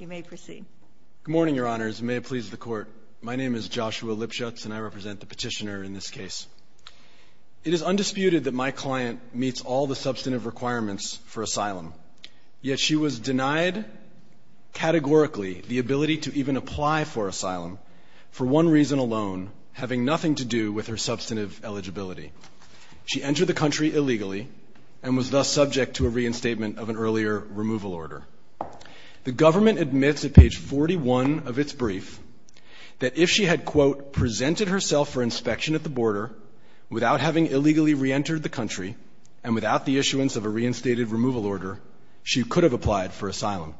Good morning, Your Honors. May it please the Court, my name is Joshua Lipschutz and I represent the petitioner in this case. It is undisputed that my client meets all the substantive requirements for asylum, yet she was denied categorically the ability to even apply for asylum for one reason alone, having nothing to do with her substantive eligibility. She entered the country without having illegally reentered the country, and without the issuance of a reinstated removal order, she could have applied for asylum.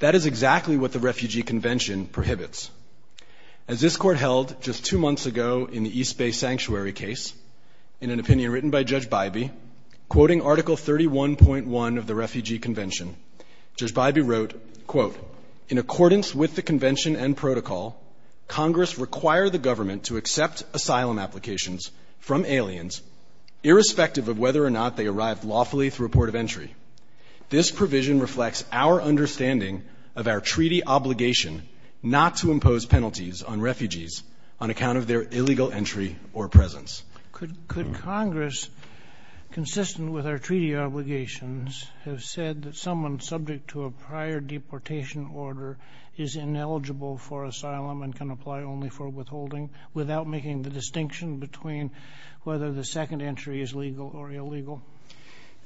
That is exactly what the Refugee Convention prohibits. As this Court held just two months ago in the East Bay Sanctuary case, in an opinion written by Judge Bybee, quoting Article 31.1 of the Refugee Convention, Judge Bybee wrote, quote, in accordance with the convention and protocol, Congress require the government to accept asylum applications from aliens, irrespective of whether or not they arrived lawfully through a port of entry. This provision reflects our understanding of our treaty obligation not to impose penalties on refugees on account of their illegal entry or presence. Kagan. Could Congress, consistent with our treaty obligations, have said that someone subject to a prior deportation order is ineligible for asylum and can apply only for withholding, without making the distinction between whether the second entry is legal or illegal?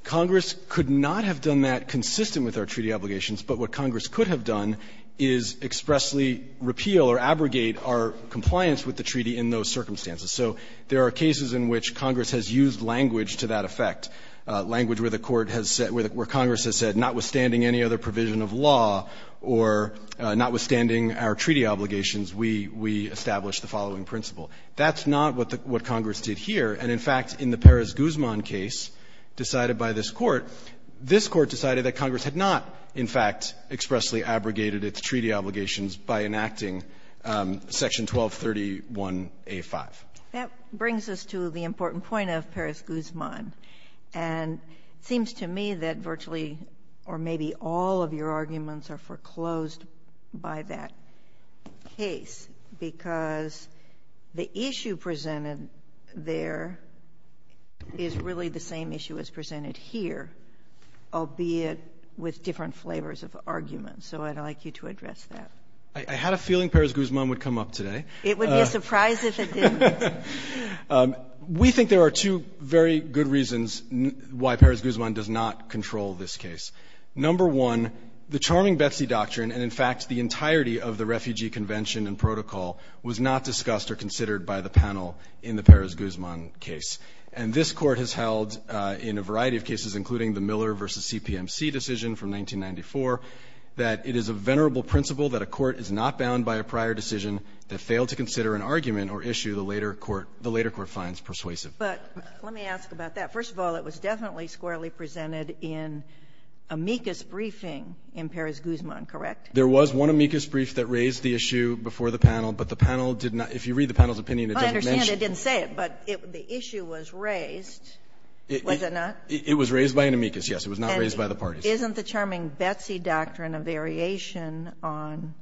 Congress could not have done that consistent with our treaty obligations. But what Congress could have done is expressly repeal or abrogate our compliance with the treaty in those circumstances. So there are cases in which Congress has used language to that effect, language where the Court has said, where Congress has said, notwithstanding any other provision of law or notwithstanding our treaty obligations, we establish the following principle. That's not what Congress did here. And, in fact, in the Perez-Guzman case decided by this Court, this Court decided that Congress had not, in fact, expressly abrogated its treaty obligations by enacting Section 1231A5. That brings us to the important point of Perez-Guzman. And it seems to me that virtually or maybe all of your arguments are foreclosed by that case, because the issue presented there is really the same issue as presented here, albeit with different flavors of argument. So I'd like you to address that. I had a feeling Perez-Guzman would come up today. It would be a surprise if it didn't. We think there are two very good reasons why Perez-Guzman does not control this case. Number one, the charming Betsy Doctrine and, in fact, the entirety of the Refugee Convention and Protocol was not discussed or considered by the panel in the Perez-Guzman case. And this Court has held in a variety of cases, including the Miller v. CPMC decision from 1994, that it is a venerable principle that a court is not bound by a prior decision that failed to consider an argument or issue the later court finds persuasive. But let me ask about that. First of all, it was definitely squarely presented in amicus briefing in Perez-Guzman, correct? There was one amicus brief that raised the issue before the panel, but the panel did not. If you read the panel's opinion, it doesn't mention it. I understand it didn't say it, but the issue was raised, was it not? It was raised by an amicus, yes. It was not raised by the parties. Isn't the charming Betsy Doctrine a variation on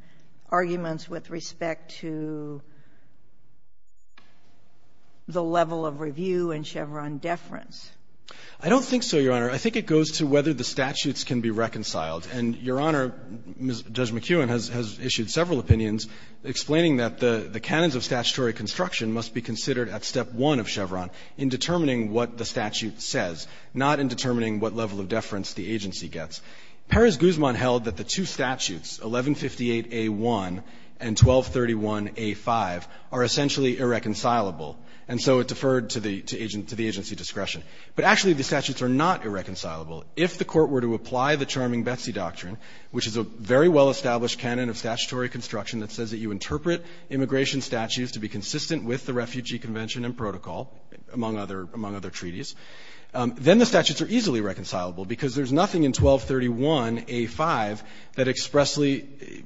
arguments with respect to the level of review and Chevron deference? I don't think so, Your Honor. I think it goes to whether the statutes can be reconciled. And, Your Honor, Judge McEwen has issued several opinions explaining that the canons of statutory construction must be considered at step one of Chevron in determining what the statute says, not in determining what level of deference the agency gets. Perez-Guzman held that the two statutes, 1158A1 and 1231A5, are essentially irreconcilable, and so it deferred to the agency discretion. But actually, the statutes are not irreconcilable. If the Court were to apply the charming Betsy Doctrine, which is a very well-established canon of statutory construction that says that you interpret immigration statutes to be consistent with the Refugee Convention and Protocol, among other treaties, then the statutes are easily reconcilable because there's nothing in 1231A5 that expressly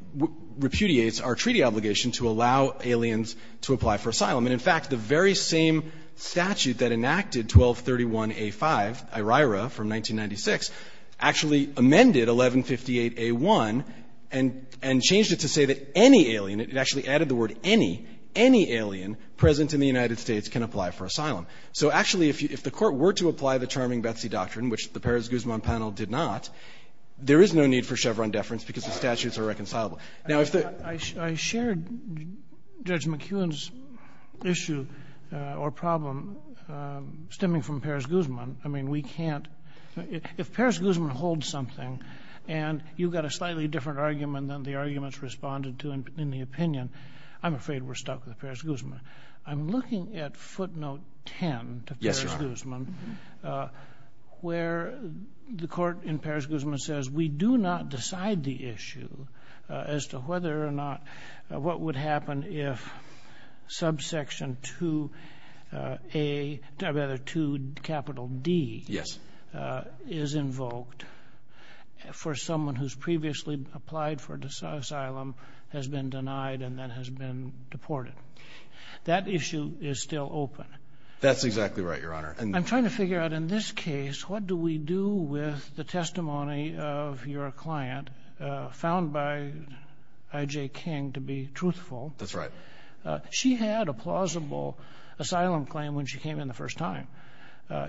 repudiates our treaty obligation to allow aliens to apply for asylum. And, in fact, the very same statute that enacted 1231A5, IRIRA from 1996, actually amended 1158A1 and changed it to say that any alien, it actually added the word alien, that any, any alien present in the United States can apply for asylum. So, actually, if the Court were to apply the charming Betsy Doctrine, which the Perez-Guzman panel did not, there is no need for Chevron deference because the statutes are reconcilable. Now, if the ---- Kennedy, I shared Judge McEwen's issue or problem stemming from Perez-Guzman. I mean, we can't ---- if Perez-Guzman holds something and you've got a slightly I'm looking at footnote 10 to Perez-Guzman, where the Court in Perez-Guzman says, we do not decide the issue as to whether or not what would happen if subsection 2A, or rather 2D, is invoked for someone who's previously applied for asylum, has been denied, and then has been deported. That issue is still open. That's exactly right, Your Honor. I'm trying to figure out, in this case, what do we do with the testimony of your client, found by I.J. King to be truthful. That's right. She had a plausible asylum claim when she came in the first time.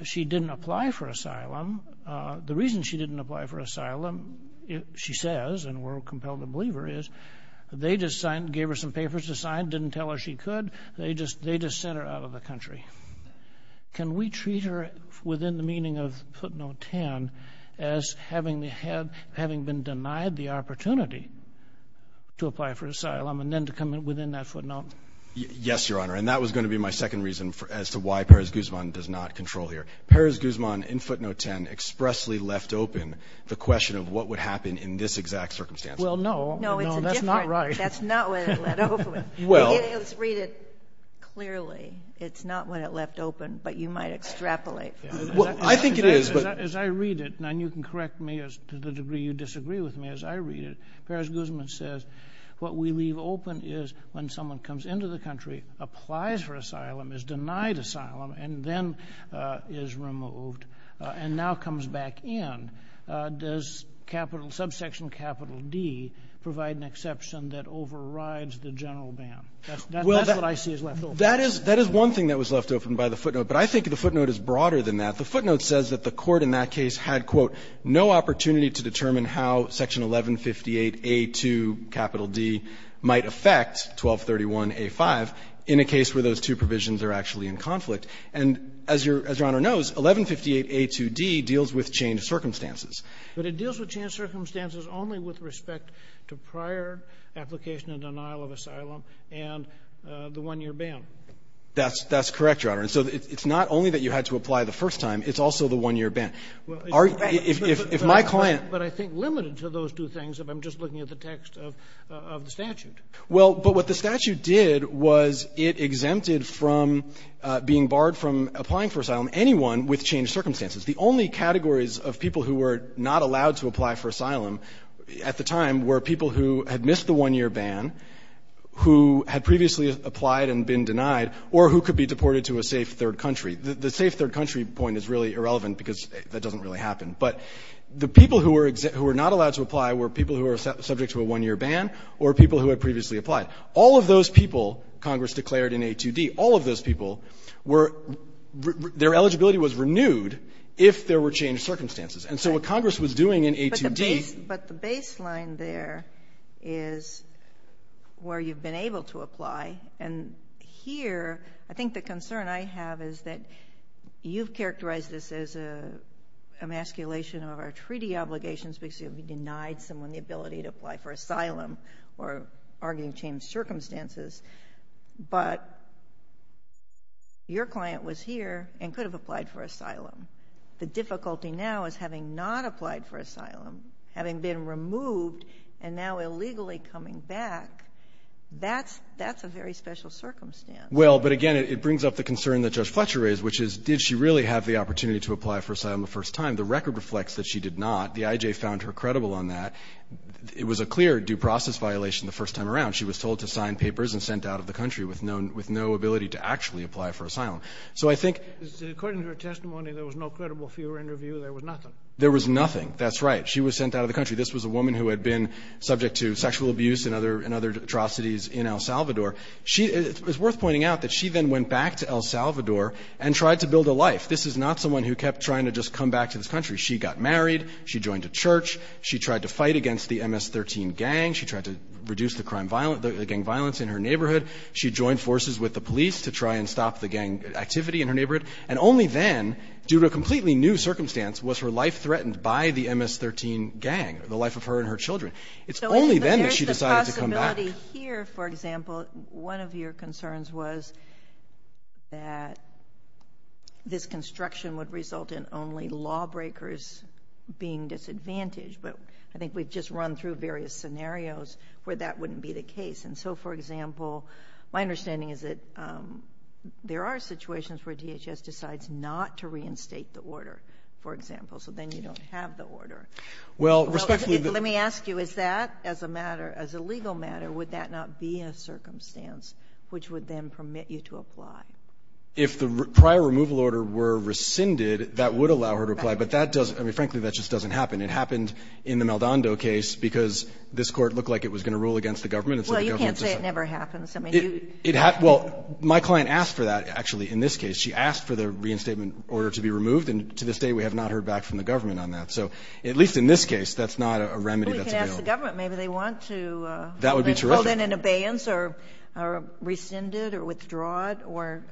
She didn't apply for asylum. The reason she didn't apply for asylum, she says, and we're compelled to believe her is, they just signed, gave her some papers to sign, didn't tell her she could. They just sent her out of the country. Can we treat her, within the meaning of footnote 10, as having been denied the opportunity to apply for asylum, and then to come within that footnote? Yes, Your Honor, and that was going to be my second reason as to why Perez-Guzman does not control here. Perez-Guzman, in footnote 10, expressly left open the question of what would happen in this exact circumstance. Well, no. No, that's not right. That's not what it left open. Well... Read it clearly. It's not what it left open, but you might extrapolate. I think it is, but... As I read it, and you can correct me to the degree you disagree with me, as I read it, Perez-Guzman says, what we leave open is, when someone comes into the country, applies for asylum, is denied asylum, and then is removed, and now comes back in, does capital D provide an exception that overrides the general ban? That's what I see as left open. Well, that is one thing that was left open by the footnote, but I think the footnote is broader than that. The footnote says that the Court in that case had, quote, no opportunity to determine how section 1158A2 capital D might affect 1231A5 in a case where those two provisions are actually in conflict, and as Your Honor knows, 1158A2d deals with changed circumstances. But it deals with changed circumstances only with respect to prior application and denial of asylum and the one-year ban. That's correct, Your Honor, and so it's not only that you had to apply the first time, it's also the one-year ban. If my client... But I think limited to those two things, if I'm just looking at the text of the statute. Well, but what the statute did was it exempted from being barred from applying for asylum anyone with changed circumstances. The only categories of people who were not allowed to apply for asylum at the time were people who had missed the one-year ban, who had previously applied and been denied, or who could be deported to a safe third country. The safe third country point is really irrelevant because that doesn't really happen. But the people who were not allowed to apply were people who were subject to a one-year ban or people who had previously applied. All of those people, Congress declared in A2d, all of those people, their eligibility was renewed if there were changed circumstances. And so what Congress was doing in A2d... But the baseline there is where you've been able to apply, and here, I think the concern I have is that you've characterized this as emasculation of our treaty obligations because you've denied someone the ability to apply for asylum or arguing changed circumstances, but your client was here and could have applied for asylum. The difficulty now is having not applied for asylum, having been removed and now illegally coming back, that's a very special circumstance. Well, but again, it brings up the concern that Judge Fletcher raised, which is did she really have the opportunity to apply for asylum the first time? The record reflects that she did not. The IJ found her credible on that. It was a clear due process violation the first time around. She was told to sign papers and sent out of the country with no ability to actually apply for asylum. So I think... According to her testimony, there was no credible fear interview. There was nothing. There was nothing. That's right. She was sent out of the country. This was a woman who had been subject to sexual abuse and other atrocities in El Salvador. She... It's worth pointing out that she then went back to El Salvador and tried to build a life. This is not someone who kept trying to just come back to this country. She got married. She joined a church. She tried to fight against the MS-13 gang. She tried to reduce the gang violence in her neighborhood. She joined forces with the police to try and stop the gang activity in her neighborhood. And only then, due to a completely new circumstance, was her life threatened by the MS-13 gang, the life of her and her children. It's only then that she decided to come back. So there's this possibility here, for example, one of your concerns was that this construction would result in only lawbreakers being disadvantaged. But I think we've just run through various scenarios where that wouldn't be the case. And so, for example, my understanding is that there are situations where DHS decides not to reinstate the order, for example, so then you don't have the order. Well, respectfully... Let me ask you, is that, as a matter, as a legal matter, would that not be a circumstance which would then permit you to apply? If the prior removal order were rescinded, that would allow her to apply. But that doesn't... I mean, frankly, that just doesn't happen. It happened in the Maldonado case because this Court looked like it was going to rule against the government. Well, you can't say it never happens. I mean, you... Well, my client asked for that, actually, in this case. She asked for the reinstatement order to be removed, and to this day, we have not heard back from the government on that. So at least in this case, that's not a remedy that's available. Well, we can ask the government. Maybe they want to... That would be terrific.... hold in an abeyance or rescind it or withdraw it or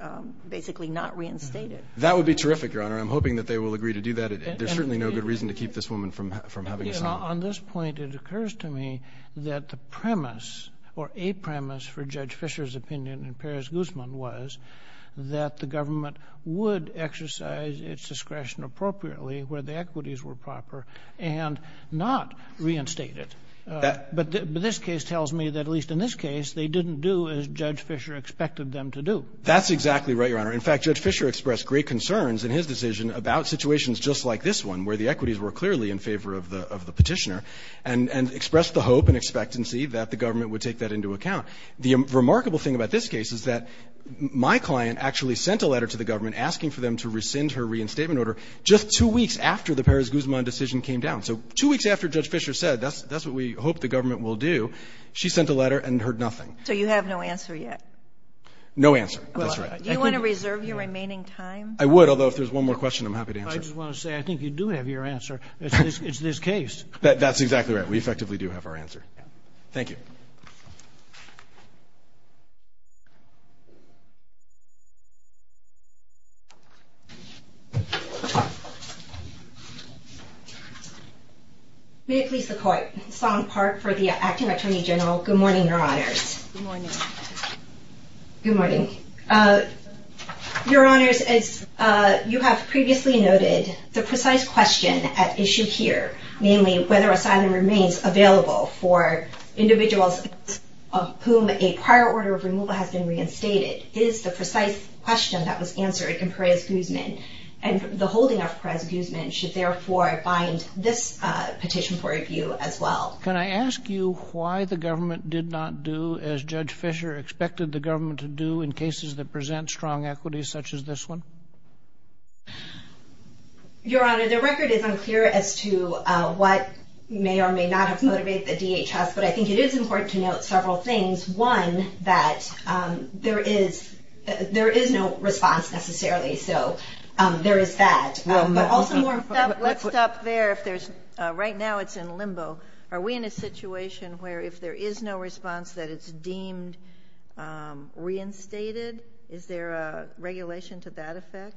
basically not reinstate it. That would be terrific, Your Honor. I'm hoping that they will agree to do that. There's certainly no good reason to keep this woman from having asylum. On this point, it occurs to me that the premise or a premise for Judge Fischer's opinion in Perez-Guzman was that the government would exercise its discretion appropriately where the equities were proper and not reinstate it. But this case tells me that at least in this case, they didn't do as Judge Fischer expected That's exactly right, Your Honor. In fact, Judge Fischer expressed great concerns in his decision about situations just like this one where the equities were clearly in favor of the Petitioner and expressed the hope and expectancy that the government would take that into account. The remarkable thing about this case is that my client actually sent a letter to the government asking for them to rescind her reinstatement order just two weeks after the Perez-Guzman decision came down. So two weeks after Judge Fischer said, that's what we hope the government will do, she sent a letter and heard nothing. So you have no answer yet? No answer. That's right. Do you want to reserve your remaining time? I would, although if there's one more question, I'm happy to answer. I just want to say, I think you do have your answer. It's this case. That's exactly right. We effectively do have our answer. Thank you. May it please the Court. Song Park for the Acting Attorney General. Good morning, Your Honors. Good morning. Good morning. Your Honors, as you have previously noted, the precise question at issue here, namely whether asylum remains available for individuals of whom a prior order of removal has been reinstated is the precise question that was answered in Perez-Guzman, and the holding of Perez-Guzman should therefore bind this petition for review as well. Can I ask you why the government did not do as Judge Fischer expected the government to do in cases that present strong equities such as this one? Your Honor, the record is unclear as to what may or may not have motivated the DHS, but I think it is important to note several things. One, that there is no response necessarily, so there is that. Let's stop there. Right now it's in limbo. Are we in a situation where if there is no response that it's deemed reinstated? Is there a regulation to that effect?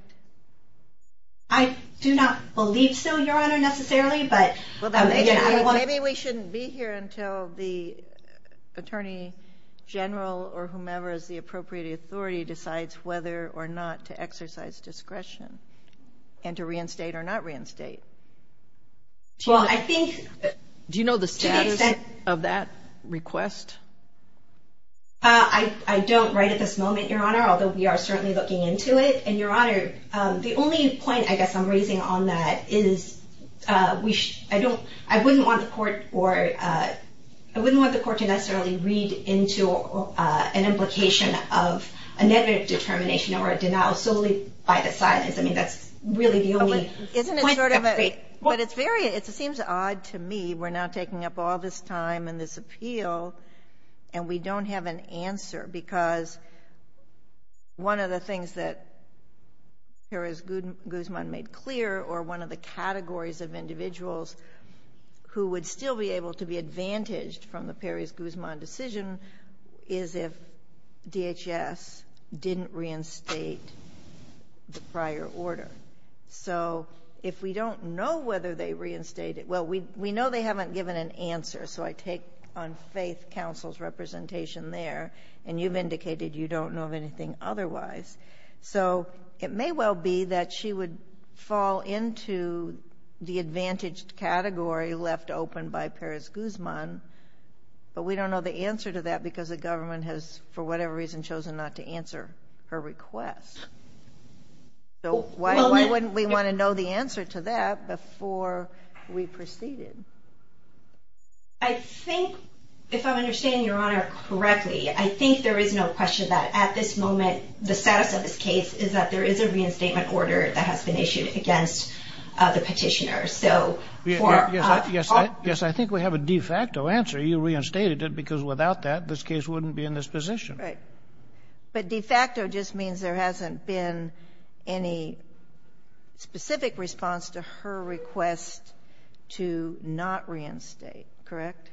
I do not believe so, Your Honor, necessarily, but again, I don't want to. Maybe we shouldn't be here until the Attorney General or whomever is the appropriate authority decides whether or not to exercise discretion and to reinstate or not reinstate. Do you know the status of that request? I don't right at this moment, Your Honor, although we are certainly looking into it. Your Honor, the only point I guess I'm raising on that is I wouldn't want the court to necessarily read into an implication of a negative determination or a denial solely by the silence. I mean, that's really the only point I'm making. But it seems odd to me. We're now taking up all this time and this appeal, and we don't have an answer because one of the things that Peres Guzman made clear, or one of the categories of individuals who would still be able to be advantaged from the Peres Guzman decision is if DHS didn't reinstate the prior order. So if we don't know whether they reinstated, well, we know they haven't given an answer, so I take on faith counsel's representation there, and you've indicated you don't know of anything otherwise. So it may well be that she would fall into the advantaged category left open by Peres Guzman, but we don't know the answer to that because the government has, for whatever reason, chosen not to answer her request. So why wouldn't we want to know the answer to that before we proceeded? I think, if I'm understanding Your Honor correctly, I think there is no question that at this request of this case is that there is a reinstatement order that has been issued against the petitioner, so for... Yes, I think we have a de facto answer. You reinstated it because without that, this case wouldn't be in this position. Right. But de facto just means there hasn't been any specific response to her request to not reinstate, correct?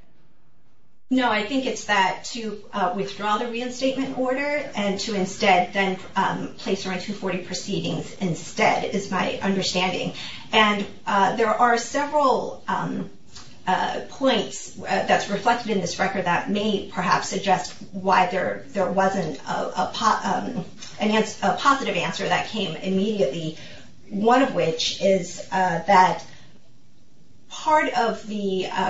No, I think it's that to withdraw the reinstatement order and to instead then place her on 240 proceedings instead, is my understanding, and there are several points that's reflected in this record that may perhaps suggest why there wasn't a positive answer that came immediately, one of which is that part of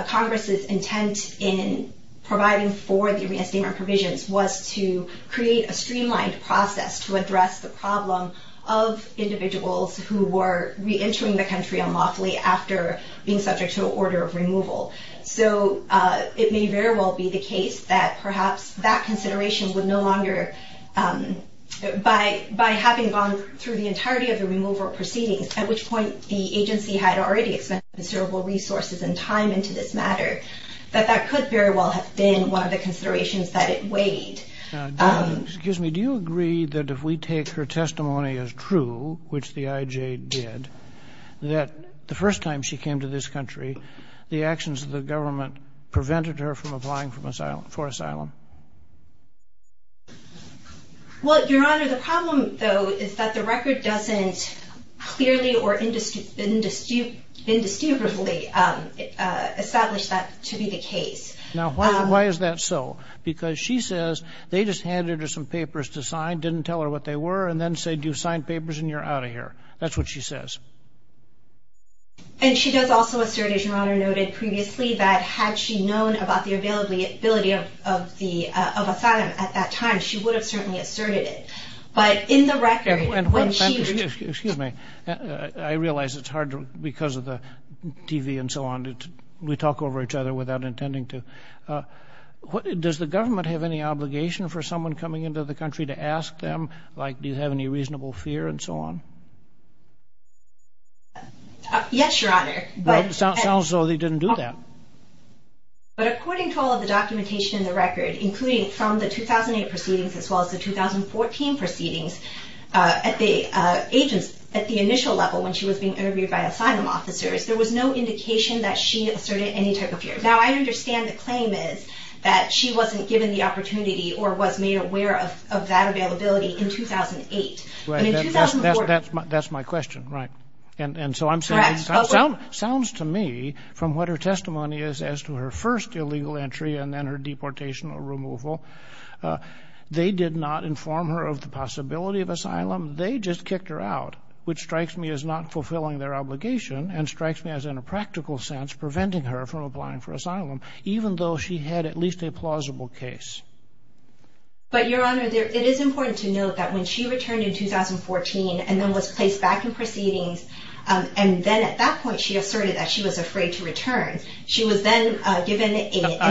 Congress's intent in providing for the reinstatement provisions was to create a streamlined process to address the problem of individuals who were re-entering the country unlawfully after being subject to an order of removal. So it may very well be the case that perhaps that consideration would no longer, by having gone through the entirety of the removal proceedings, at which point the agency had already expended considerable resources and time into this matter, that that could very well have been one of the considerations that it weighed. Excuse me, do you agree that if we take her testimony as true, which the IJ did, that the first time she came to this country, the actions of the government prevented her from applying for asylum? Well, Your Honor, the problem, though, is that the record doesn't clearly or indistinguishably establish that to be the case. Now, why is that so? Because she says they just handed her some papers to sign, didn't tell her what they were, and then said, you signed papers and you're out of here. That's what she says. And she does also assert, as Your Honor noted previously, that had she known about the availability of asylum at that time, she would have certainly asserted it. But in the record, when she... Excuse me, I realize it's hard, because of the TV and so on, we talk over each other without intending to. Does the government have any obligation for someone coming into the country to ask them, like, do you have any reasonable fear and so on? Yes, Your Honor, but... Well, it sounds as though they didn't do that. But according to all of the documentation in the record, including from the 2008 proceedings as well as the 2014 proceedings, at the initial level, when she was being interviewed by asylum officers, there was no indication that she asserted any type of fear. Now, I understand the claim is that she wasn't given the opportunity or was made aware of that availability in 2008. That's my question, right. It sounds to me, from what her testimony is as to her first illegal entry and then her deportation or removal, they did not inform her of the possibility of asylum. They just kicked her out, which strikes me as not fulfilling their obligation and strikes me as, in a practical sense, preventing her from applying for asylum, even though she had at least a plausible case. But, Your Honor, it is important to note that when she returned in 2014 and then was placed back in proceedings, and then at that point she asserted that she was afraid to return, she was then given an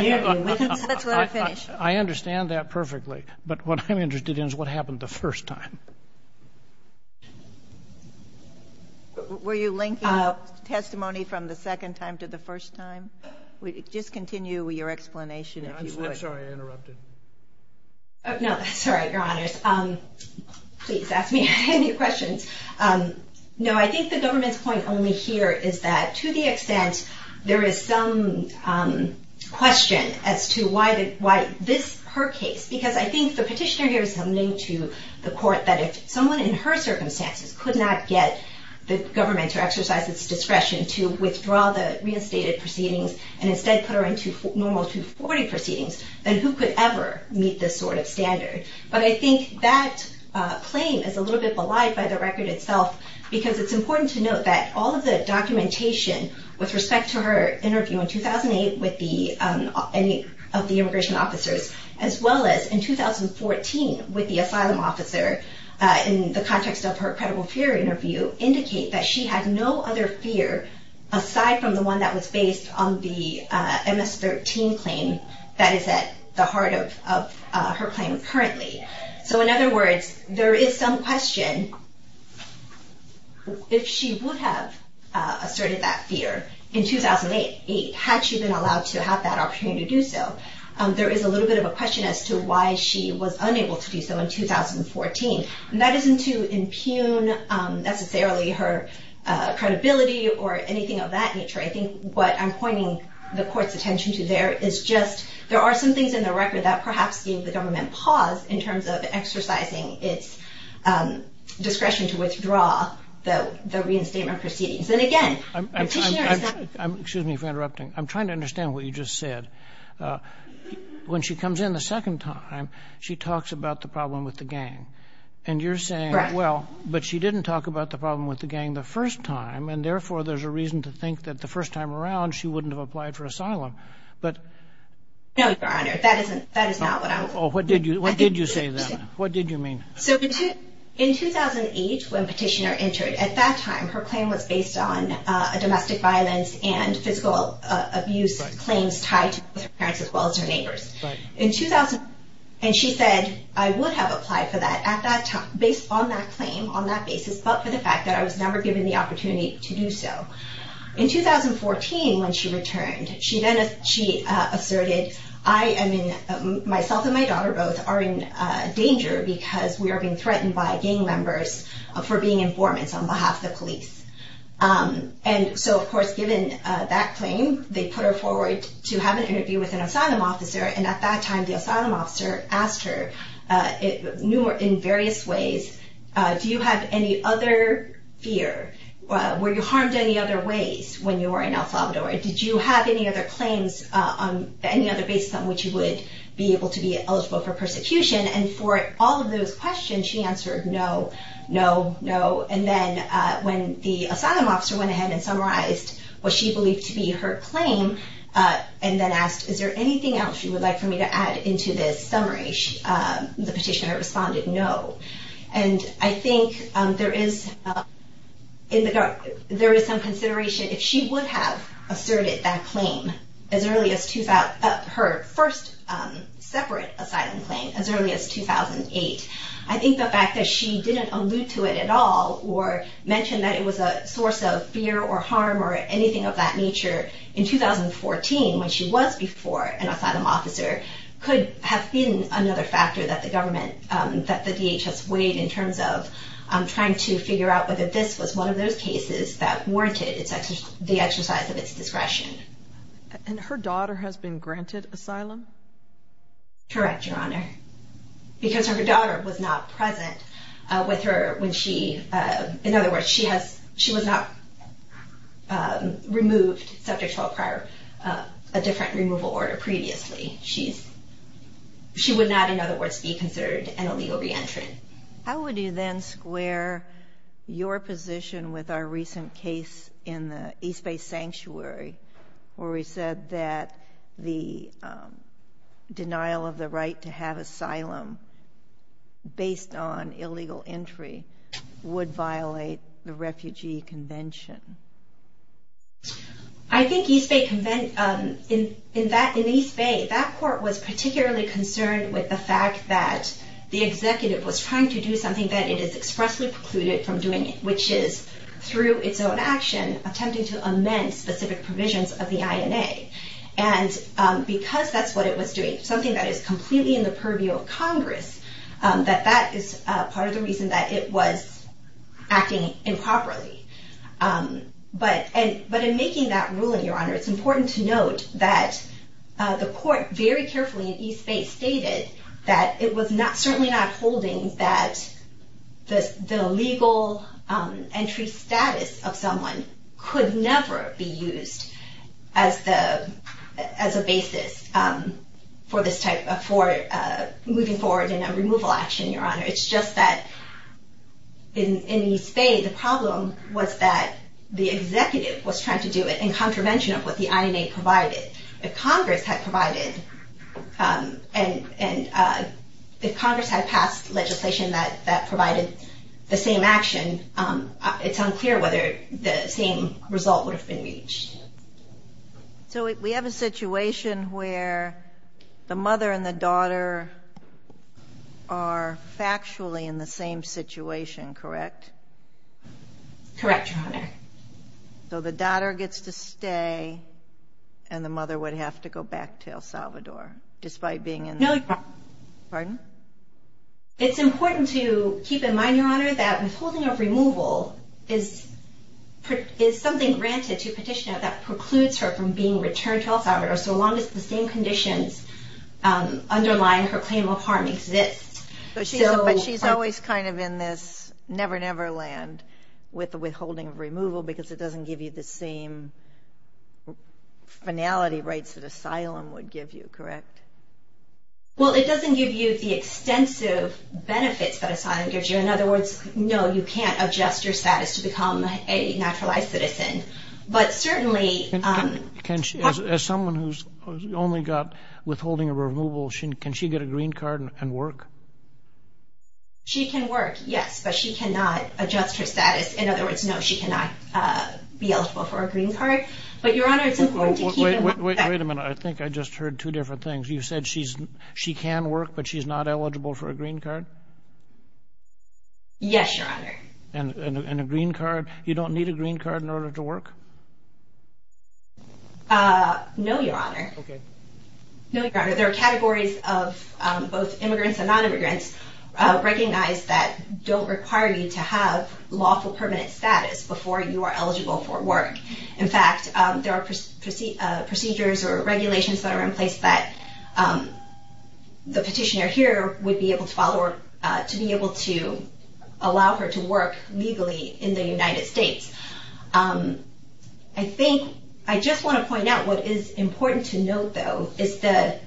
interview with asylum. I understand that perfectly. But what I'm interested in is what happened the first time. Were you linking testimony from the second time to the first time? Just continue your explanation, if you would. I'm sorry, I interrupted. No, that's all right, Your Honors. Please ask me any questions. No, I think the government's point only here is that, to the extent there is some question as to why this, her case, because I think the petitioner here is telling the court that if someone in her circumstances could not get the government to exercise its discretion to withdraw the reinstated proceedings and instead put her into normal 240 proceedings, then who could ever meet this sort of standard? But I think that claim is a little bit belied by the record itself because it's important to note that all of the documentation with respect to her interview in 2008 with any of the immigration officers, as well as in 2014 with the asylum officer, in the context of her credible fear interview, indicate that she had no other fear aside from the one that was based on the MS-13 claim that is at the heart of her claim currently. So in other words, there is some question, if she would have asserted that fear in 2008, had she been allowed to have that opportunity to do so, there is a little bit of a question as to why she was unable to do so in 2014. And that isn't to impugn necessarily her credibility or anything of that nature. I think what I'm pointing the court's attention to there is just there are some things in the record that perhaps gave the government pause in terms of exercising its discretion to withdraw the reinstatement proceedings. And again, the petitioner is not... Excuse me for interrupting. I'm trying to understand what you just said. When she comes in the second time, she talks about the problem with the gang. And you're saying, well, but she didn't talk about the problem with the gang the first time. And therefore, there's a reason to think that the first time around, she wouldn't have applied for asylum. But... No, Your Honor. That is not what I'm... What did you say then? What did you mean? So in 2008, when petitioner entered, at that time, her claim was based on domestic violence and physical abuse claims tied to her parents as well as her neighbors. And she said, I would have applied for that at that time, based on that claim, on that basis, but for the fact that I was never given the opportunity to do so. In 2014, when she returned, she asserted, I am in... Myself and my daughter both are in danger because we are being threatened by gang members for being informants on behalf of the police. And so, of course, given that claim, they put her forward to have an interview with an asylum officer. And at that time, the asylum officer asked her in various ways, do you have any other fear? Were you harmed any other ways when you were in El Salvador? Did you have any other claims on any other basis on which you would be able to be eligible for persecution? And for all of those questions, she answered, no, no, no. And then when the asylum officer went ahead and summarized what she believed to be her claim and then asked, is there anything else you would like for me to add into this summary? The petitioner responded, no. And I think there is some consideration if she would have asserted that claim as early as... Her first separate asylum claim as early as 2008. I think the fact that she didn't allude to it at all or mention that it was a source of fear or harm or anything of that nature in 2014 when she was before an asylum officer could have been another factor that the government, that the DHS weighed in terms of trying to figure out whether this was one of those cases that warranted the exercise of its discretion. And her daughter has been granted asylum? Correct, Your Honor. Because her daughter was not present with her when she... In other words, she was not removed subject to a different removal order previously. She would not, in other words, be considered an illegal re-entrant. How would you then square your position with our recent case in the East Bay Sanctuary where we said that the denial of the right to have asylum based on illegal entry would violate the Refugee Convention? I think East Bay... In East Bay, that court was particularly concerned with the fact that the executive was trying to do something that it has expressly precluded from doing, which is through its own action attempting to amend specific provisions of the INA. And because that's what it was doing, something that is completely in the purview of Congress, that that is part of the reason that it was acting improperly. But in making that ruling, Your Honor, it's important to note that the court very carefully in East Bay stated that it was certainly not holding that the legal entry status of someone could never be used as a basis for moving forward in a removal action, Your Honor. It's just that in East Bay, the problem was that the executive was trying to do it in contravention of what the INA provided. If Congress had provided and if Congress had passed legislation that provided the same action, it's unclear whether the same result would have been reached. So we have a situation where the mother and the daughter are factually in the same situation, correct? Correct, Your Honor. So the daughter gets to stay and the mother would have to go back to El Salvador despite being in the... No, Your Honor. Pardon? It's important to keep in mind, Your Honor, that withholding of removal is something granted to petitioner that precludes her from being returned to El Salvador so long as the same conditions underlying her claim of harm exist. But she's always kind of in this never, never land with the withholding of removal because it doesn't give you the same finality rights that asylum would give you, correct? Well, it doesn't give you the extensive benefits that asylum gives you. In other words, no, you can't adjust your status to become a naturalized citizen. But certainly... As someone who's only got withholding of removal, can she get a green card and work? She can work, yes, but she cannot adjust her status. In other words, no, she cannot be eligible for a green card. But, Your Honor, it's important to keep in mind... Wait a minute. I think I just heard two different things. You said she can work but she's not eligible for a green card? Yes, Your Honor. And a green card, you don't need a green card in order to work? No, Your Honor. Okay. No, Your Honor. There are categories of both immigrants and non-immigrants recognized that don't require you to have lawful permanent status before you are eligible for work. In fact, there are procedures or regulations that are in place that the petitioner here would be able to allow her to work legally in the United States. I think I just want to point out what is important to note, though, is that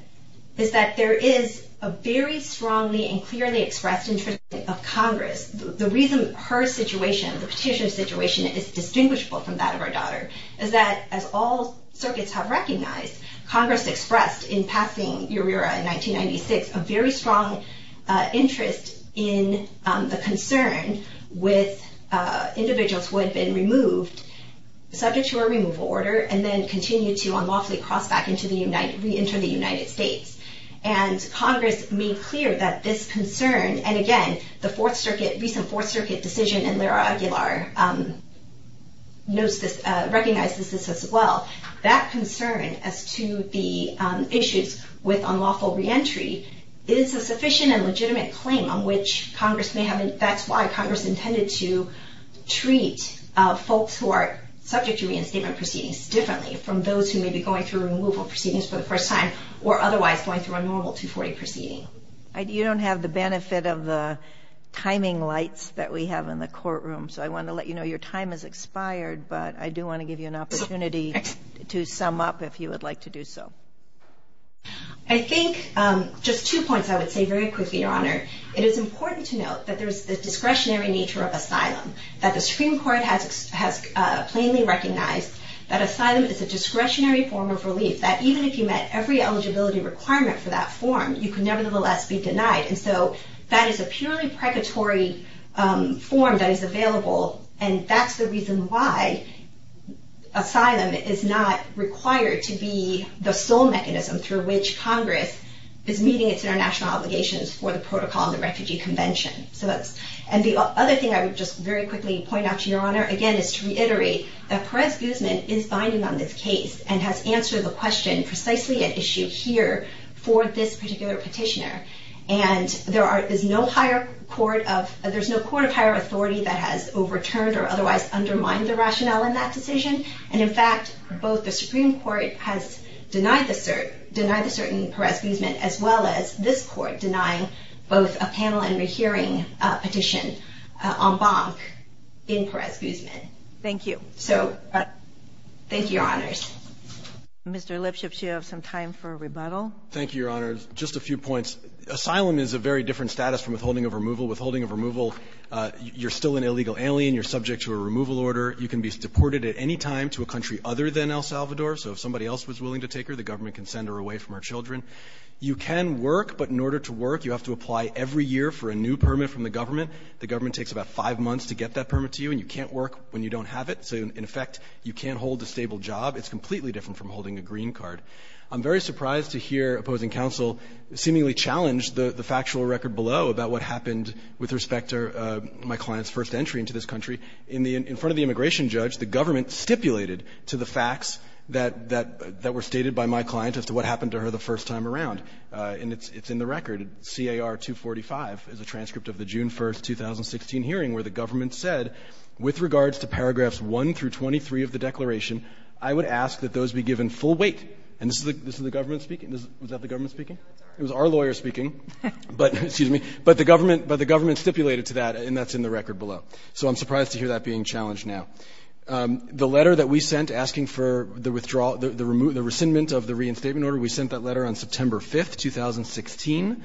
there is a very strongly and clearly expressed interest of Congress. The reason her situation, the petitioner's situation, is distinguishable from that of her daughter is that, as all circuits have recognized, Congress expressed in passing EURERA in 1996 a very strong interest in the concern with individuals who had been removed, subject to a removal order, and then continued to unlawfully cross back into the United — reenter the United States. And Congress made clear that this concern — and, again, the Fourth Circuit, recent Fourth Circuit decision in Lera Aguilar recognizes this as well — that concern as to the issues with unlawful reentry is a sufficient and legitimate claim on which Congress may have — that's why Congress intended to treat folks who are subject to reinstatement proceedings differently from those who may be going through removal proceedings for the first time or otherwise going through a normal 240 proceeding. You don't have the benefit of the timing lights that we have in the courtroom, so I want to let you know your time has expired, but I do want to give you an opportunity to sum up if you would like to do so. I think — just two points I would say very quickly, Your Honor. It is important to note that there is the discretionary nature of asylum, that the Supreme Court has plainly recognized that asylum is a discretionary form of relief, that even if you met every eligibility requirement for that form, you could nevertheless be denied. And so that is a purely pregatory form that is available, and that's the reason why asylum is not required to be the sole mechanism through which Congress is meeting its international obligations for the Protocol on the Refugee Convention. And the other thing I would just very quickly point out to Your Honor, again, is to reiterate that Perez Guzman is binding on this case and has answered the question precisely at issue here for this particular petitioner. And there is no higher court of — there's no court of higher authority that has overturned or otherwise undermined the rationale in that decision, and in fact both the Supreme Court has denied the cert in Perez Guzman as well as this Court denying both a panel and a hearing petition en banc in Perez Guzman. Thank you. So thank you, Your Honors. Mr. Lipschitz, you have some time for a rebuttal. Thank you, Your Honors. Just a few points. Asylum is a very different status from withholding of removal. Withholding of removal, you're still an illegal alien. You're subject to a removal order. You can be deported at any time to a country other than El Salvador. So if somebody else was willing to take her, the government can send her away from her children. You can work, but in order to work, you have to apply every year for a new permit from the government. The government takes about five months to get that permit to you, and you can't work when you don't have it. So in effect, you can't hold a stable job. It's completely different from holding a green card. I'm very surprised to hear opposing counsel seemingly challenge the factual record below about what happened with respect to my client's first entry into this country. In front of the immigration judge, the government stipulated to the facts that were stated by my client as to what happened to her the first time around. And it's in the record. CAR-245 is a transcript of the June 1, 2016 hearing where the government said, with regards to paragraphs 1 through 23 of the declaration, I would ask that those be given full weight. And this is the government speaking? Was that the government speaking? It was our lawyer speaking. But the government stipulated to that, and that's in the record below. So I'm surprised to hear that being challenged now. The letter that we sent asking for the rescindment of the reinstatement order, we sent that letter on September 5, 2016.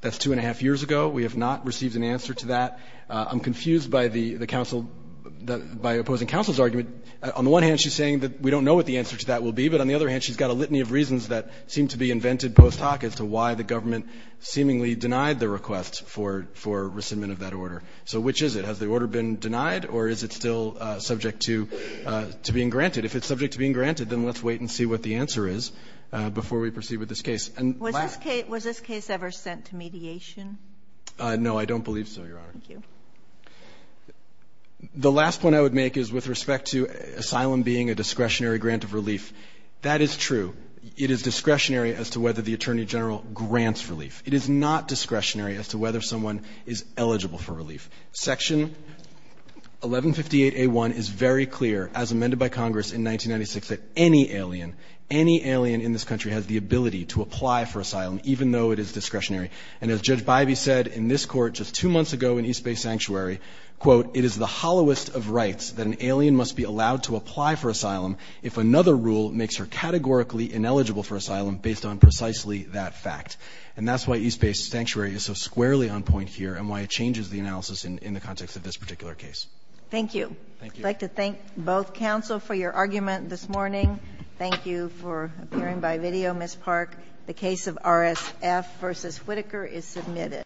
That's two and a half years ago. We have not received an answer to that. I'm confused by opposing counsel's argument. On the one hand, she's saying that we don't know what the answer to that will be. But on the other hand, she's got a litany of reasons that seem to be invented post hoc as to why the government seemingly denied the request for rescindment of that order. So which is it? Has the order been denied? Or is it still subject to being granted? If it's subject to being granted, then let's wait and see what the answer is before we proceed with this case. Was this case ever sent to mediation? No, I don't believe so, Your Honor. Thank you. The last point I would make is with respect to asylum being a discretionary grant of relief. That is true. It is discretionary as to whether the Attorney General grants relief. It is not discretionary as to whether someone is eligible for relief. Section 1158A1 is very clear, as amended by Congress in 1996, that any alien, any alien in this country has the ability to apply for asylum, even though it is discretionary. And as Judge Bybee said in this court just two months ago in East Bay Sanctuary, quote, it is the hollowest of rights that an alien must be allowed to apply for asylum if another rule makes her categorically ineligible for asylum based on precisely that fact. And that's why East Bay Sanctuary is so squarely on point here and why it changes the analysis in the context of this particular case. Thank you. Thank you. I'd like to thank both counsel for your argument this morning. Thank you for appearing by video, Ms. Park. The case of RSF v. Whitaker is submitted.